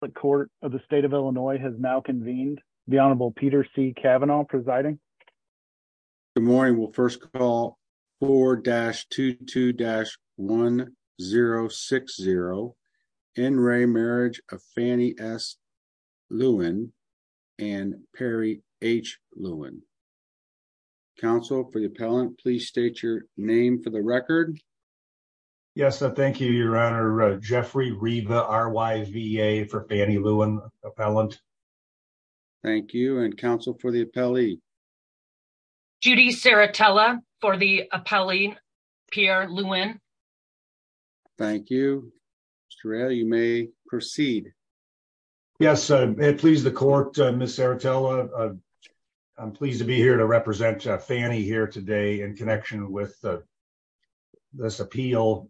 the court of the state of Illinois has now convened the Honorable Peter C. Kavanaugh presiding. Good morning we'll first call 4-22-1060 N. Ray Marriage of Fannie S. Lewin and Perry H. Lewin. Counsel for the appellant please state your name for the record. Yes I thank you your honor Jeffrey Riva R. Y. V. A. for Fannie Lewin appellant. Thank you and counsel for the appellee. Judy Saratella for the appellee Pierre Lewin. Thank you Mr. Ray you may proceed. Yes please the court Ms. Saratella I'm pleased to be here to this appeal.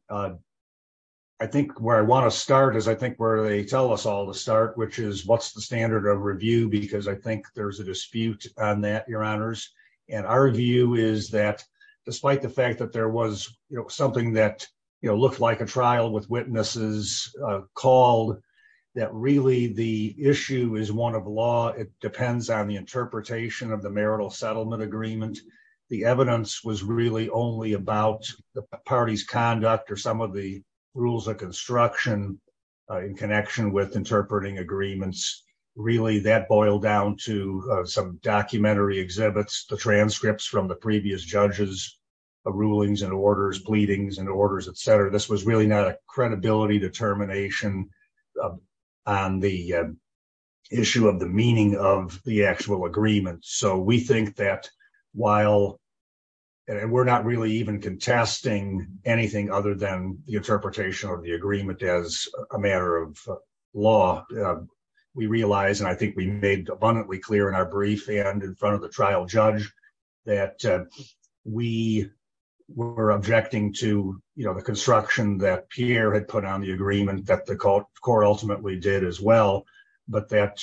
I think where I want to start is I think where they tell us all to start which is what's the standard of review because I think there's a dispute on that your honors and our view is that despite the fact that there was you know something that you know looked like a trial with witnesses called that really the issue is one of law it depends on the interpretation of marital settlement agreement the evidence was really only about the party's conduct or some of the rules of construction in connection with interpreting agreements really that boiled down to some documentary exhibits the transcripts from the previous judges of rulings and orders pleadings and orders etc this was really not a credibility determination on the issue of the meaning of the actual agreement so we think that while and we're not really even contesting anything other than the interpretation of the agreement as a matter of law we realize and I think we made abundantly clear in our brief and in front of the trial judge that we were objecting to you know the construction that Pierre had put on the agreement that the court ultimately did as but that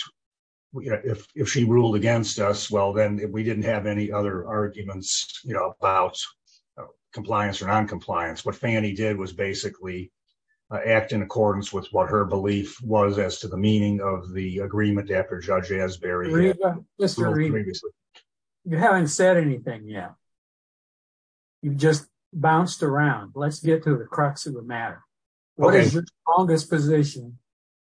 if she ruled against us well then we didn't have any other arguments you know about compliance or non-compliance what Fannie did was basically act in accordance with what her belief was as to the meaning of the agreement after Judge Asbury you haven't said anything yet you just bounced around let's get to the crux of the matter what is your strongest position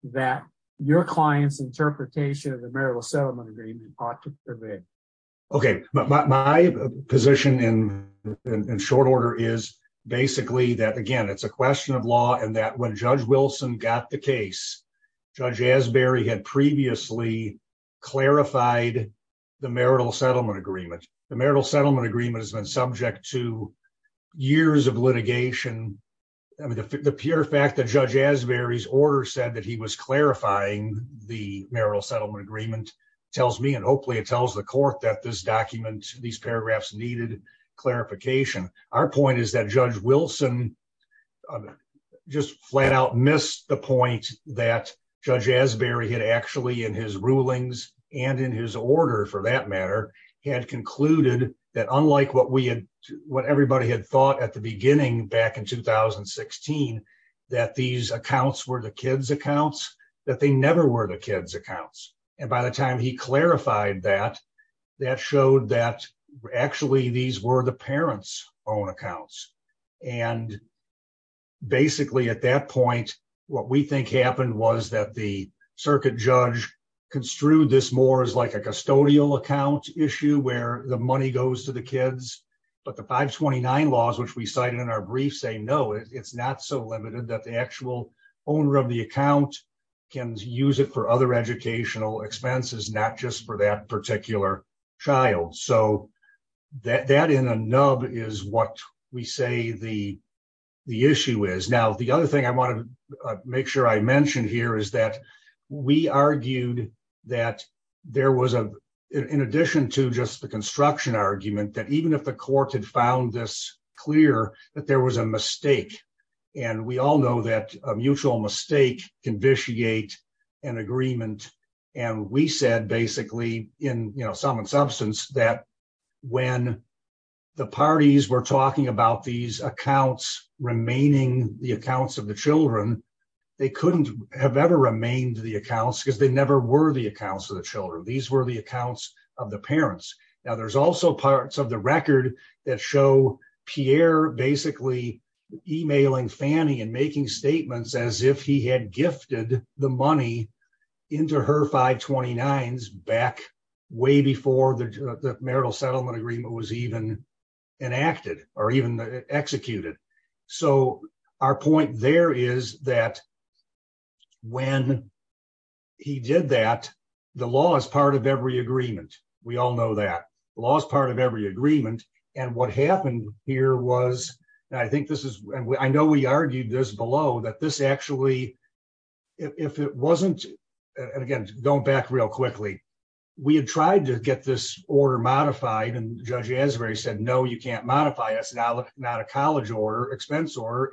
that your clients interpretation of the marital settlement agreement ought to okay my position in in short order is basically that again it's a question of law and that when Judge Wilson got the case Judge Asbury had previously clarified the marital settlement agreement the marital settlement agreement has been subject to years of litigation I mean the pure fact that Judge Asbury's order said that he was clarifying the marital settlement agreement tells me and hopefully it tells the court that this document these paragraphs needed clarification our point is that Judge Wilson just flat out missed the point that Judge Asbury had actually in his rulings and in his order for that matter had concluded that unlike what we had what that these accounts were the kids accounts that they never were the kids accounts and by the time he clarified that that showed that actually these were the parents own accounts and basically at that point what we think happened was that the circuit judge construed this more as like a custodial account issue where the money goes to the kids but the 529 laws which we cited in our that the actual owner of the account can use it for other educational expenses not just for that particular child so that that in a nub is what we say the the issue is now the other thing I want to make sure I mentioned here is that we argued that there was a in addition to just the construction argument that even if the court had found this clear that there was a mistake and we all know that a mutual mistake can vitiate an agreement and we said basically in you know sum and substance that when the parties were talking about these accounts remaining the accounts of the children they couldn't have ever remained the accounts because they never were the accounts of the these were the accounts of the parents now there's also parts of the record that show Pierre basically emailing Fannie and making statements as if he had gifted the money into her 529s back way before the marital settlement agreement was even enacted or even executed so our point there is that when he did that the law is part of every agreement we all know that law is part of every agreement and what happened here was I think this is and I know we argued this below that this actually if it wasn't and again going back real quickly we had tried to expense order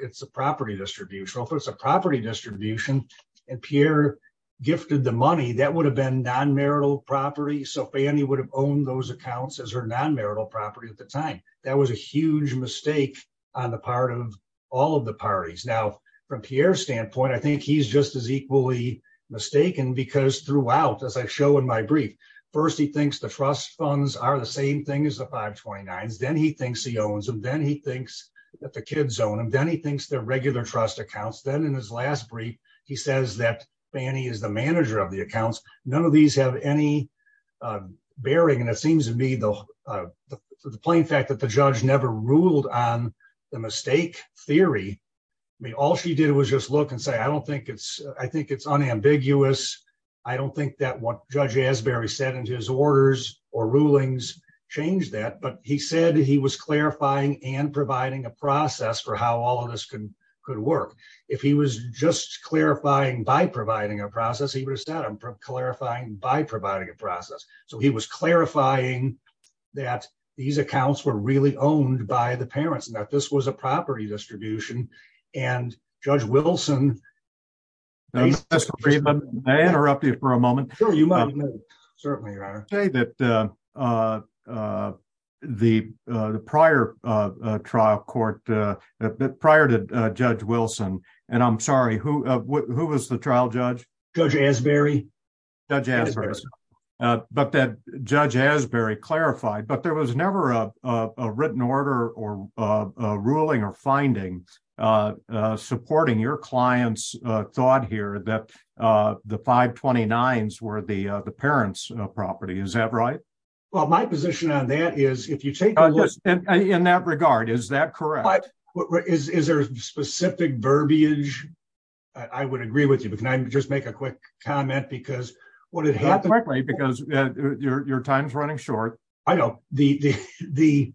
it's a property distribution if it's a property distribution and Pierre gifted the money that would have been non-marital property so Fannie would have owned those accounts as her non-marital property at the time that was a huge mistake on the part of all of the parties now from Pierre's standpoint I think he's just as equally mistaken because throughout as I show in my brief first he thinks the trust funds are the same thing as the 529s he thinks he owns them then he thinks that the kids own them then he thinks they're regular trust accounts then in his last brief he says that Fannie is the manager of the accounts none of these have any bearing and it seems to me the the plain fact that the judge never ruled on the mistake theory I mean all she did was just look and say I don't think it's I think it's unambiguous I don't think that what judge Asbury said in his orders or rulings changed that but he said he was clarifying and providing a process for how all of this could could work if he was just clarifying by providing a process he would have said I'm clarifying by providing a process so he was clarifying that these accounts were really owned by the parents and that this was a property distribution and judge Wilson I interrupt you for a moment sure you might certainly your okay that uh uh the uh the prior uh uh trial court uh that prior to uh judge Wilson and I'm sorry who uh who was the trial judge judge Asbury judge Asbury but that judge Asbury clarified but there was never a a written order or a ruling or finding uh uh supporting your clients uh thought that uh the 529s were the uh the parents uh property is that right well my position on that is if you take a look in that regard is that correct what is is there a specific verbiage I would agree with you but can I just make a quick comment because what it happened correctly because your your time's running short I know the the the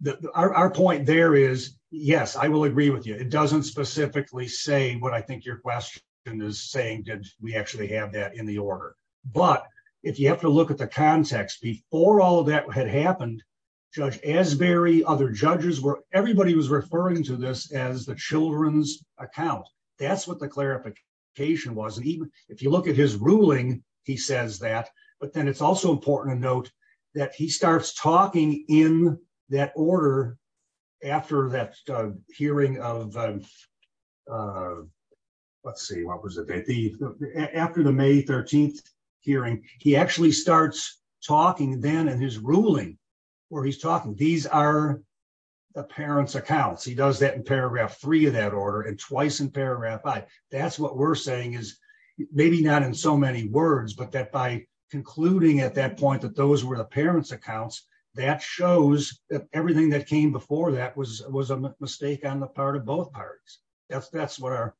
the our point there is yes I will agree with you it doesn't specifically say what I think your question is saying did we actually have that in the order but if you have to look at the context before all that had happened judge Asbury other judges were everybody was referring to this as the children's account that's what the clarification was and even if you look at his ruling he says that but then it's also important to note that he starts talking in that order after that hearing of uh let's see what was the date the after the May 13th hearing he actually starts talking then in his ruling where he's talking these are the parents accounts he does that in paragraph three of that order and twice in paragraph five that's what we're saying is maybe not in so many words but that by concluding at that point that those were the parents accounts that shows that everything that came before that was was a mistake on the part of both parties that's that's what our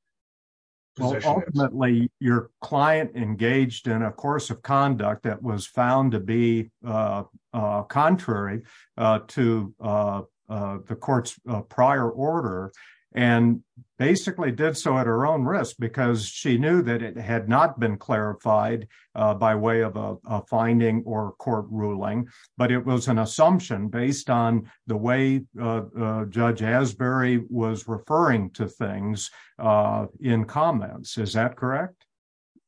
position ultimately your client engaged in a course of conduct that was found to be uh uh contrary uh to uh uh the court's prior order and basically did so at her own risk because she knew that it had not been clarified uh by way of a finding or court ruling but it was an assumption based on the way uh uh judge Asbury was referring to things uh in comments is that correct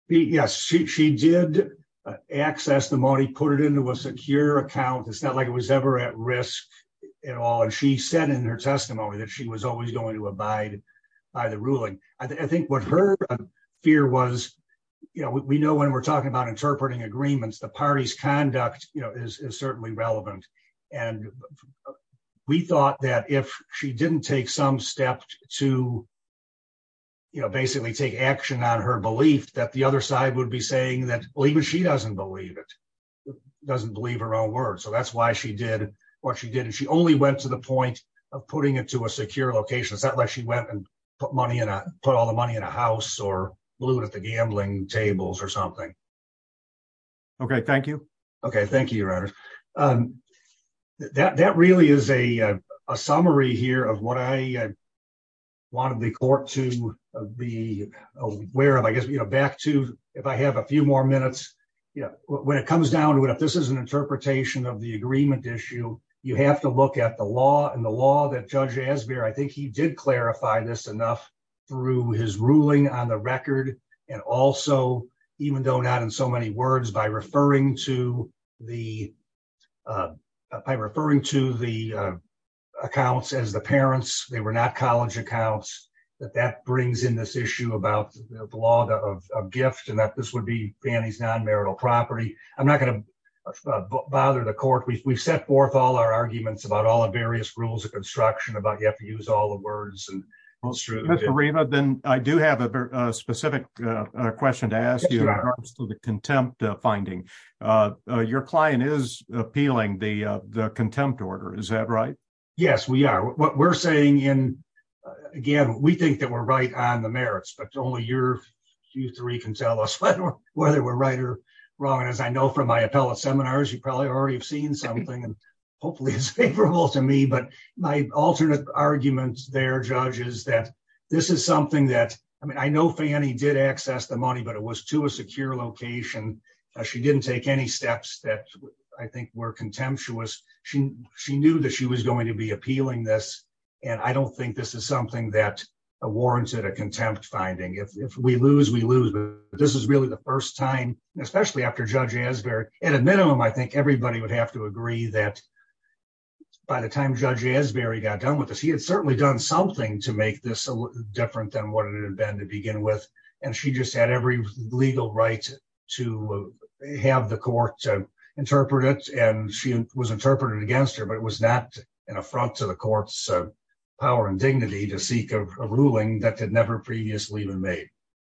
yes she she did access the money put it into a secure account it's not like it was ever at risk at all and she said in her testimony that she was always going to abide by the ruling i think what her fear was you know we know when we're talking about agreements the party's conduct you know is certainly relevant and we thought that if she didn't take some step to you know basically take action on her belief that the other side would be saying that believe it she doesn't believe it doesn't believe her own words so that's why she did what she did and she only went to the point of putting it to a secure location it's not like she went and put money in a put all the money in a house or blew it at the gambling tables or something okay thank you okay thank you your honor um that that really is a a summary here of what i wanted the court to be aware of i guess you know back to if i have a few more minutes you know when it comes down to it if this is an interpretation of the agreement issue you have to look at the law and the law that judge as beer i think he did clarify this enough through his ruling on the record and also even though not in so many words by referring to the by referring to the accounts as the parents they were not college accounts that that brings in this issue about the law of gift and that this would be fanny's non-marital property i'm not going to bother the court we've set forth all our arguments about all the various rules of i do have a specific uh question to ask you about the contempt finding uh your client is appealing the uh the contempt order is that right yes we are what we're saying in again we think that we're right on the merits but only your q3 can tell us whether we're right or wrong as i know from my appellate seminars you probably already have seen something and my alternate argument there judge is that this is something that i mean i know fanny did access the money but it was to a secure location she didn't take any steps that i think were contemptuous she she knew that she was going to be appealing this and i don't think this is something that warranted a contempt finding if we lose we lose but this is really the first time especially after judge asbury at a minimum i think everybody would have to agree that by the time judge asbury got done with this he had certainly done something to make this a different than what it had been to begin with and she just had every legal right to have the court to interpret it and she was interpreted against her but it was not an affront to the court's power and dignity to seek a ruling that had never previously been made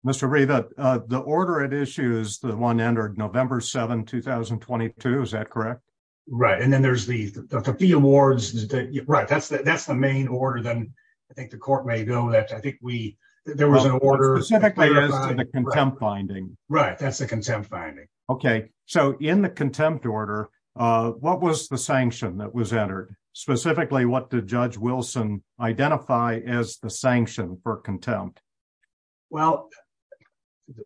mr ray that uh the order at issue is the one entered november 7 2022 is that correct right and then there's the the fee awards that right that's that's the main order then i think the court may know that i think we there was an order specifically as to the contempt finding right that's the contempt finding okay so in the contempt order uh what was the sanction that was entered specifically what did judge wilson identify as the sanction for contempt well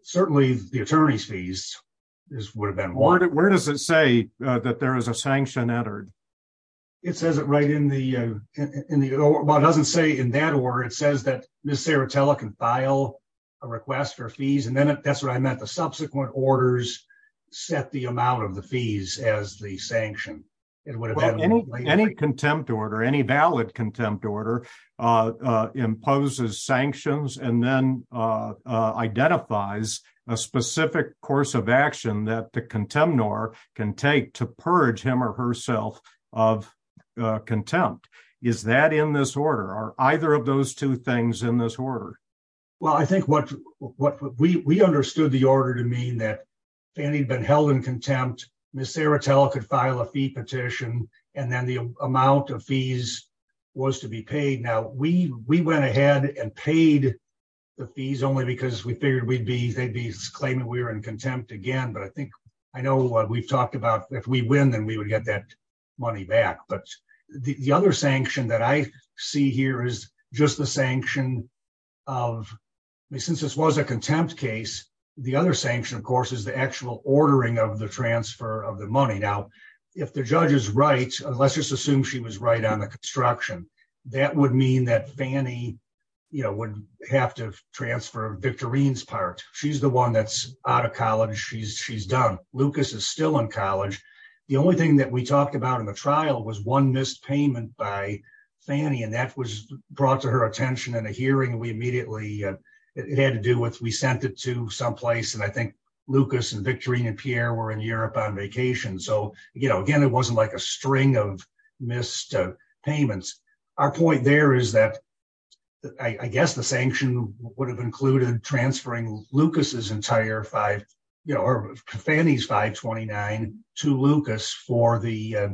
certainly the attorney's fees this would have been where does it say that there is a sanction entered it says it right in the uh in the what doesn't say in that order it says that miss serratella can file a request for fees and then that's what i meant the subsequent orders set the amount of the fees as the sanction it would have been any contempt order any valid identifies a specific course of action that the contempt nor can take to purge him or herself of contempt is that in this order are either of those two things in this order well i think what what we we understood the order to mean that fanny had been held in contempt miss serratella could file a fee petition and then the amount of fees was to be paid now we we went ahead and paid the fees only because we figured we'd be they'd be claiming we were in contempt again but i think i know what we've talked about if we win then we would get that money back but the other sanction that i see here is just the sanction of me since this was a contempt case the other sanction of course is the actual ordering of the transfer of the money now if the judge is right let's just have to transfer victorine's part she's the one that's out of college she's she's done lucas is still in college the only thing that we talked about in the trial was one missed payment by fanny and that was brought to her attention in a hearing we immediately it had to do with we sent it to some place and i think lucas and victorine and pierre were in europe on vacation so you know again it wasn't like a string of missed payments our point there is that i guess the sanction would have included transferring lucas's entire five you know or fanny's 529 to lucas for the uh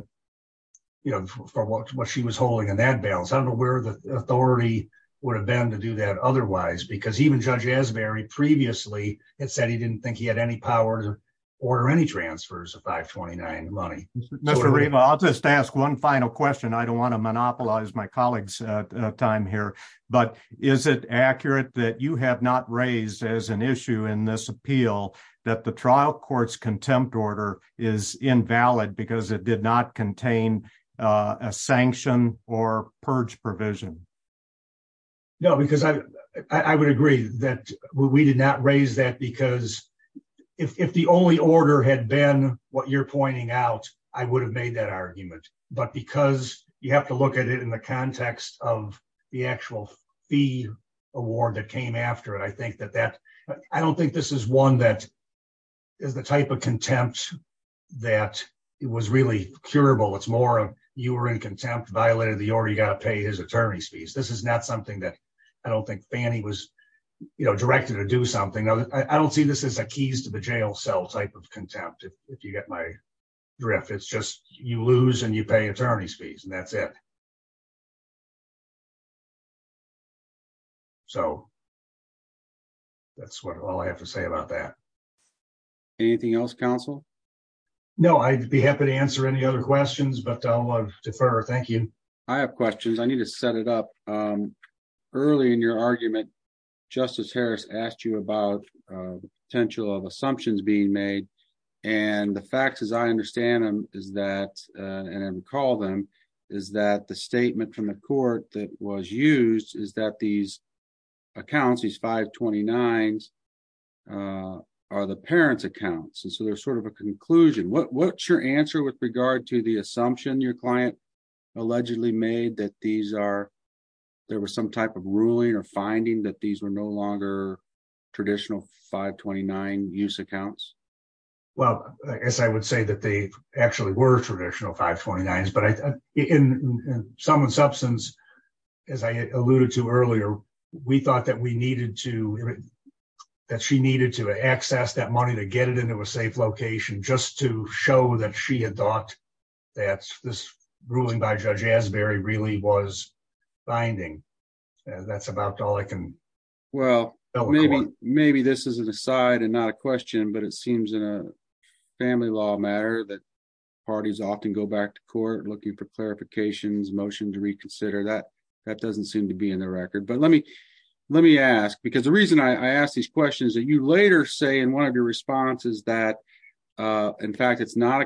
you know for what she was holding in that balance i don't know where the authority would have been to do that otherwise because even judge asbury previously had said he didn't think he had any power to order any transfers of 529 money mr rima i'll just ask one final question i don't want to monopolize my colleagues uh time here but is it accurate that you have not raised as an issue in this appeal that the trial court's contempt order is invalid because it did not contain a sanction or purge provision no because i i would agree that we did not raise that because if the only order had been what you're pointing out i would have made that argument but because you have to look at it in the context of the actual fee award that came after it i think that that i don't think this is one that is the type of contempt that it was really curable it's more of you were in contempt violated the order you got to pay his attorney's fees this is not something that i don't think fanny was you know directed to do something i don't see this as a keys to the jail cell type of contempt if you get my drift it's you lose and you pay attorney's fees and that's it so that's what all i have to say about that anything else counsel no i'd be happy to answer any other questions but i'll defer thank you i have questions i need to set it up um early in your argument justice harris asked you about the potential of assumptions being made and the facts as i understand them is that and i recall them is that the statement from the court that was used is that these accounts these 529s uh are the parents accounts and so there's sort of a conclusion what what's your answer with regard to the assumption your client allegedly made that these are there was some type of ruling or finding that these were no longer traditional 529 use accounts well i guess i would say that they actually were traditional 529s but i in some substance as i alluded to earlier we thought that we needed to that she needed to access that money to get it into a safe location just to show that she had thought that this was a 529 use account well maybe maybe this is an aside and not a question but it seems in a family law matter that parties often go back to court looking for clarifications motion to reconsider that that doesn't seem to be in the record but let me let me ask because the reason i i asked these questions that you later say in one of your responses that uh in fact it's not a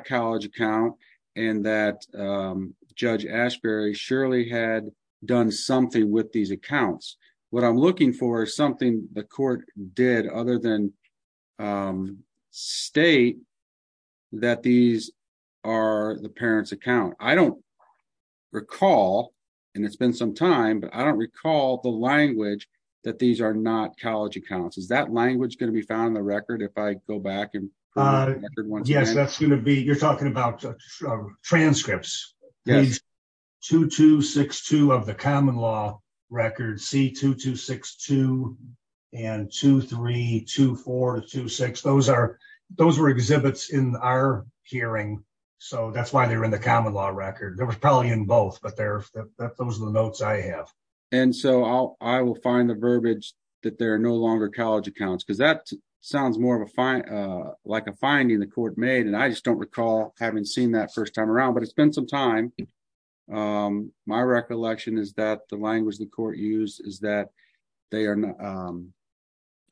what i'm looking for is something the court did other than um state that these are the parents account i don't recall and it's been some time but i don't recall the language that these are not college accounts is that language going to be found in the record if i go back and uh yes that's you're talking about transcripts yes 2262 of the common law record c2262 and 232426 those are those were exhibits in our hearing so that's why they're in the common law record there was probably in both but they're those are the notes i have and so i'll i will find the verbiage that they're no longer college accounts because that sounds more of a fine uh like a finding the court made and i just don't recall having seen that first time around but it's been some time um my recollection is that the language the court used is that they are not um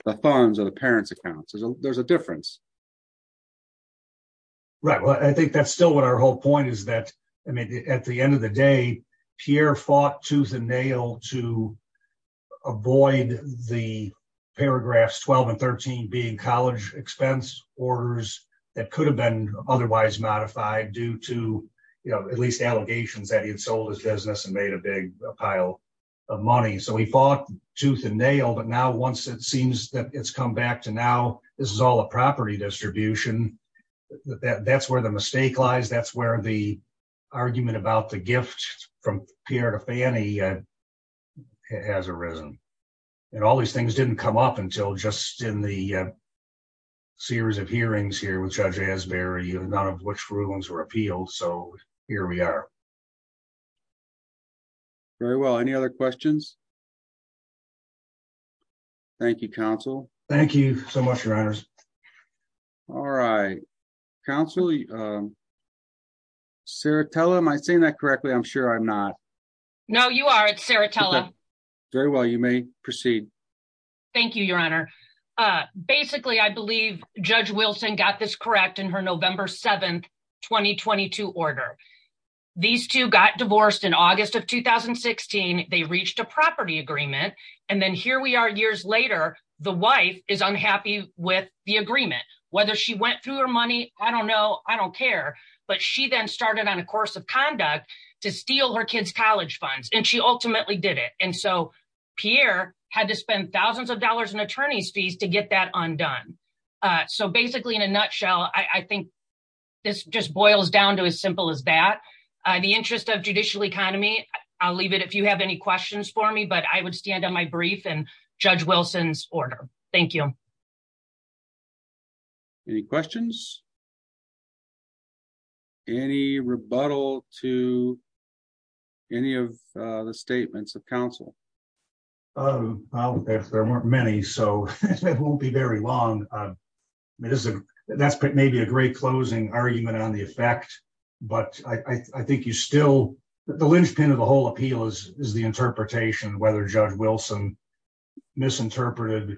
the funds are the parents accounts there's a difference right well i think that's still what our whole point is that i mean at the end of the day pierre fought tooth and nail to avoid the paragraphs 12 and 13 being college expense orders that could have been otherwise modified due to you know at least allegations that he had sold his business and made a big pile of money so he fought tooth and nail but now once it seems that it's come back to now this is all a property distribution that's where the mistake lies that's where the argument about the gift from pierre to fanny has arisen and all these things didn't come up until just in the series of hearings here with judge asbury none of which rulings were appealed so here we are very well any other questions thank you counsel thank you so much your honors all right counsel um saratella am i saying that correctly i'm sure i'm not no you are it's saratella very well you may proceed thank you your honor uh basically i believe judge wilson got this correct in her november 7th 2022 order these two got divorced in august of 2016 they reached a property agreement and then here we are years later the wife is unhappy with the agreement whether she went through her money i don't know i don't care but she then started on a course of conduct to steal her kids college funds and she ultimately did it and so pierre had to spend thousands of dollars in attorney's fees to get that undone uh so basically in a nutshell i i think this just boils down to as simple as that uh the interest of judicial economy i'll leave it if you have any questions for me but i would stand on my brief and judge wilson's order thank you any questions any rebuttal to any of the statements of counsel um well if there weren't many so it won't be very long uh it is a that's maybe a great closing argument on the effect but i i think you still the linchpin of the whole appeal is is the interpretation whether judge wilson misinterpreted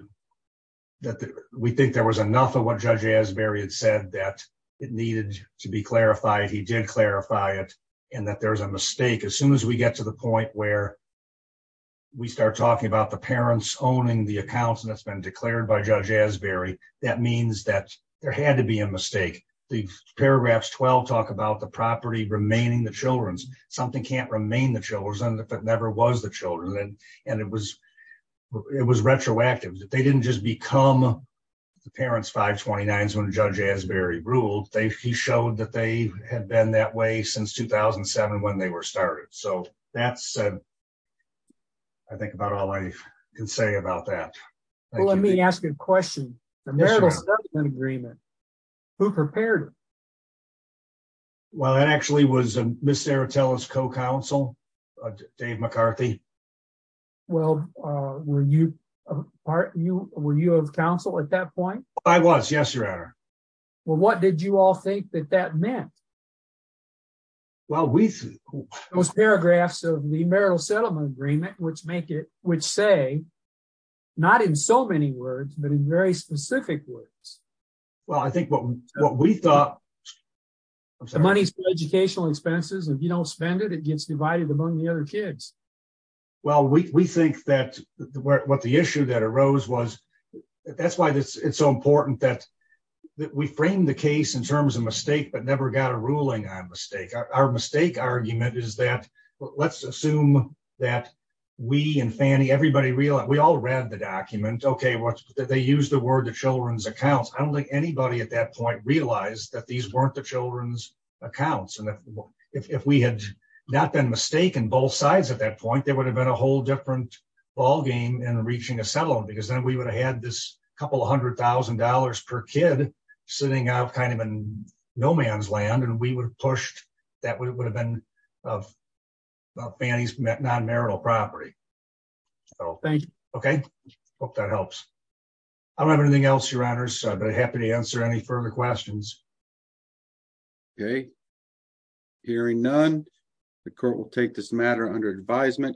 that we think there was enough of what judge asbury had said that it needed to be clarified he did clarify it and that there's a mistake as soon as we get to the point where we start talking about the parents owning the accounts and it's been declared by judge asbury that means that there had to be a mistake the paragraphs 12 talk about the property remaining the children's something can't remain the children if it never was the children and and it was it was retroactive that they didn't just become the parents 529s when judge asbury ruled they he showed that they had been that way since 2007 when they were started so that's uh i think about all i can say about that let me ask a question agreement who prepared well that actually was a miss aratella's co-counsel dave mccarthy well uh were you part you were you of counsel at that point i was yes your honor well what did you all think that that meant well we those paragraphs of the marital settlement agreement which make it which say not in so many words but in very specific words well i think what what we thought the money's for educational expenses if you don't spend it it gets divided among the other kids well we we think that what the issue that arose was that's why this it's so important that that we framed the case in terms of mistake but never got a ruling on a mistake our mistake argument is that let's assume that we and fanny everybody realized we all read the document okay what they use the word the children's accounts i don't think anybody at that point realized that these weren't the children's accounts and if we had not been mistaken both sides at that point there would have been a whole different ball game and reaching a settlement because then we would have had this couple of hundred thousand dollars per kid sitting out kind of in no man's land and we would have pushed that would have been of fanny's non-marital property so thank you okay hope that helps i don't have anything else your honors i'd be happy to answer any further questions okay hearing none the court will take this matter under advisement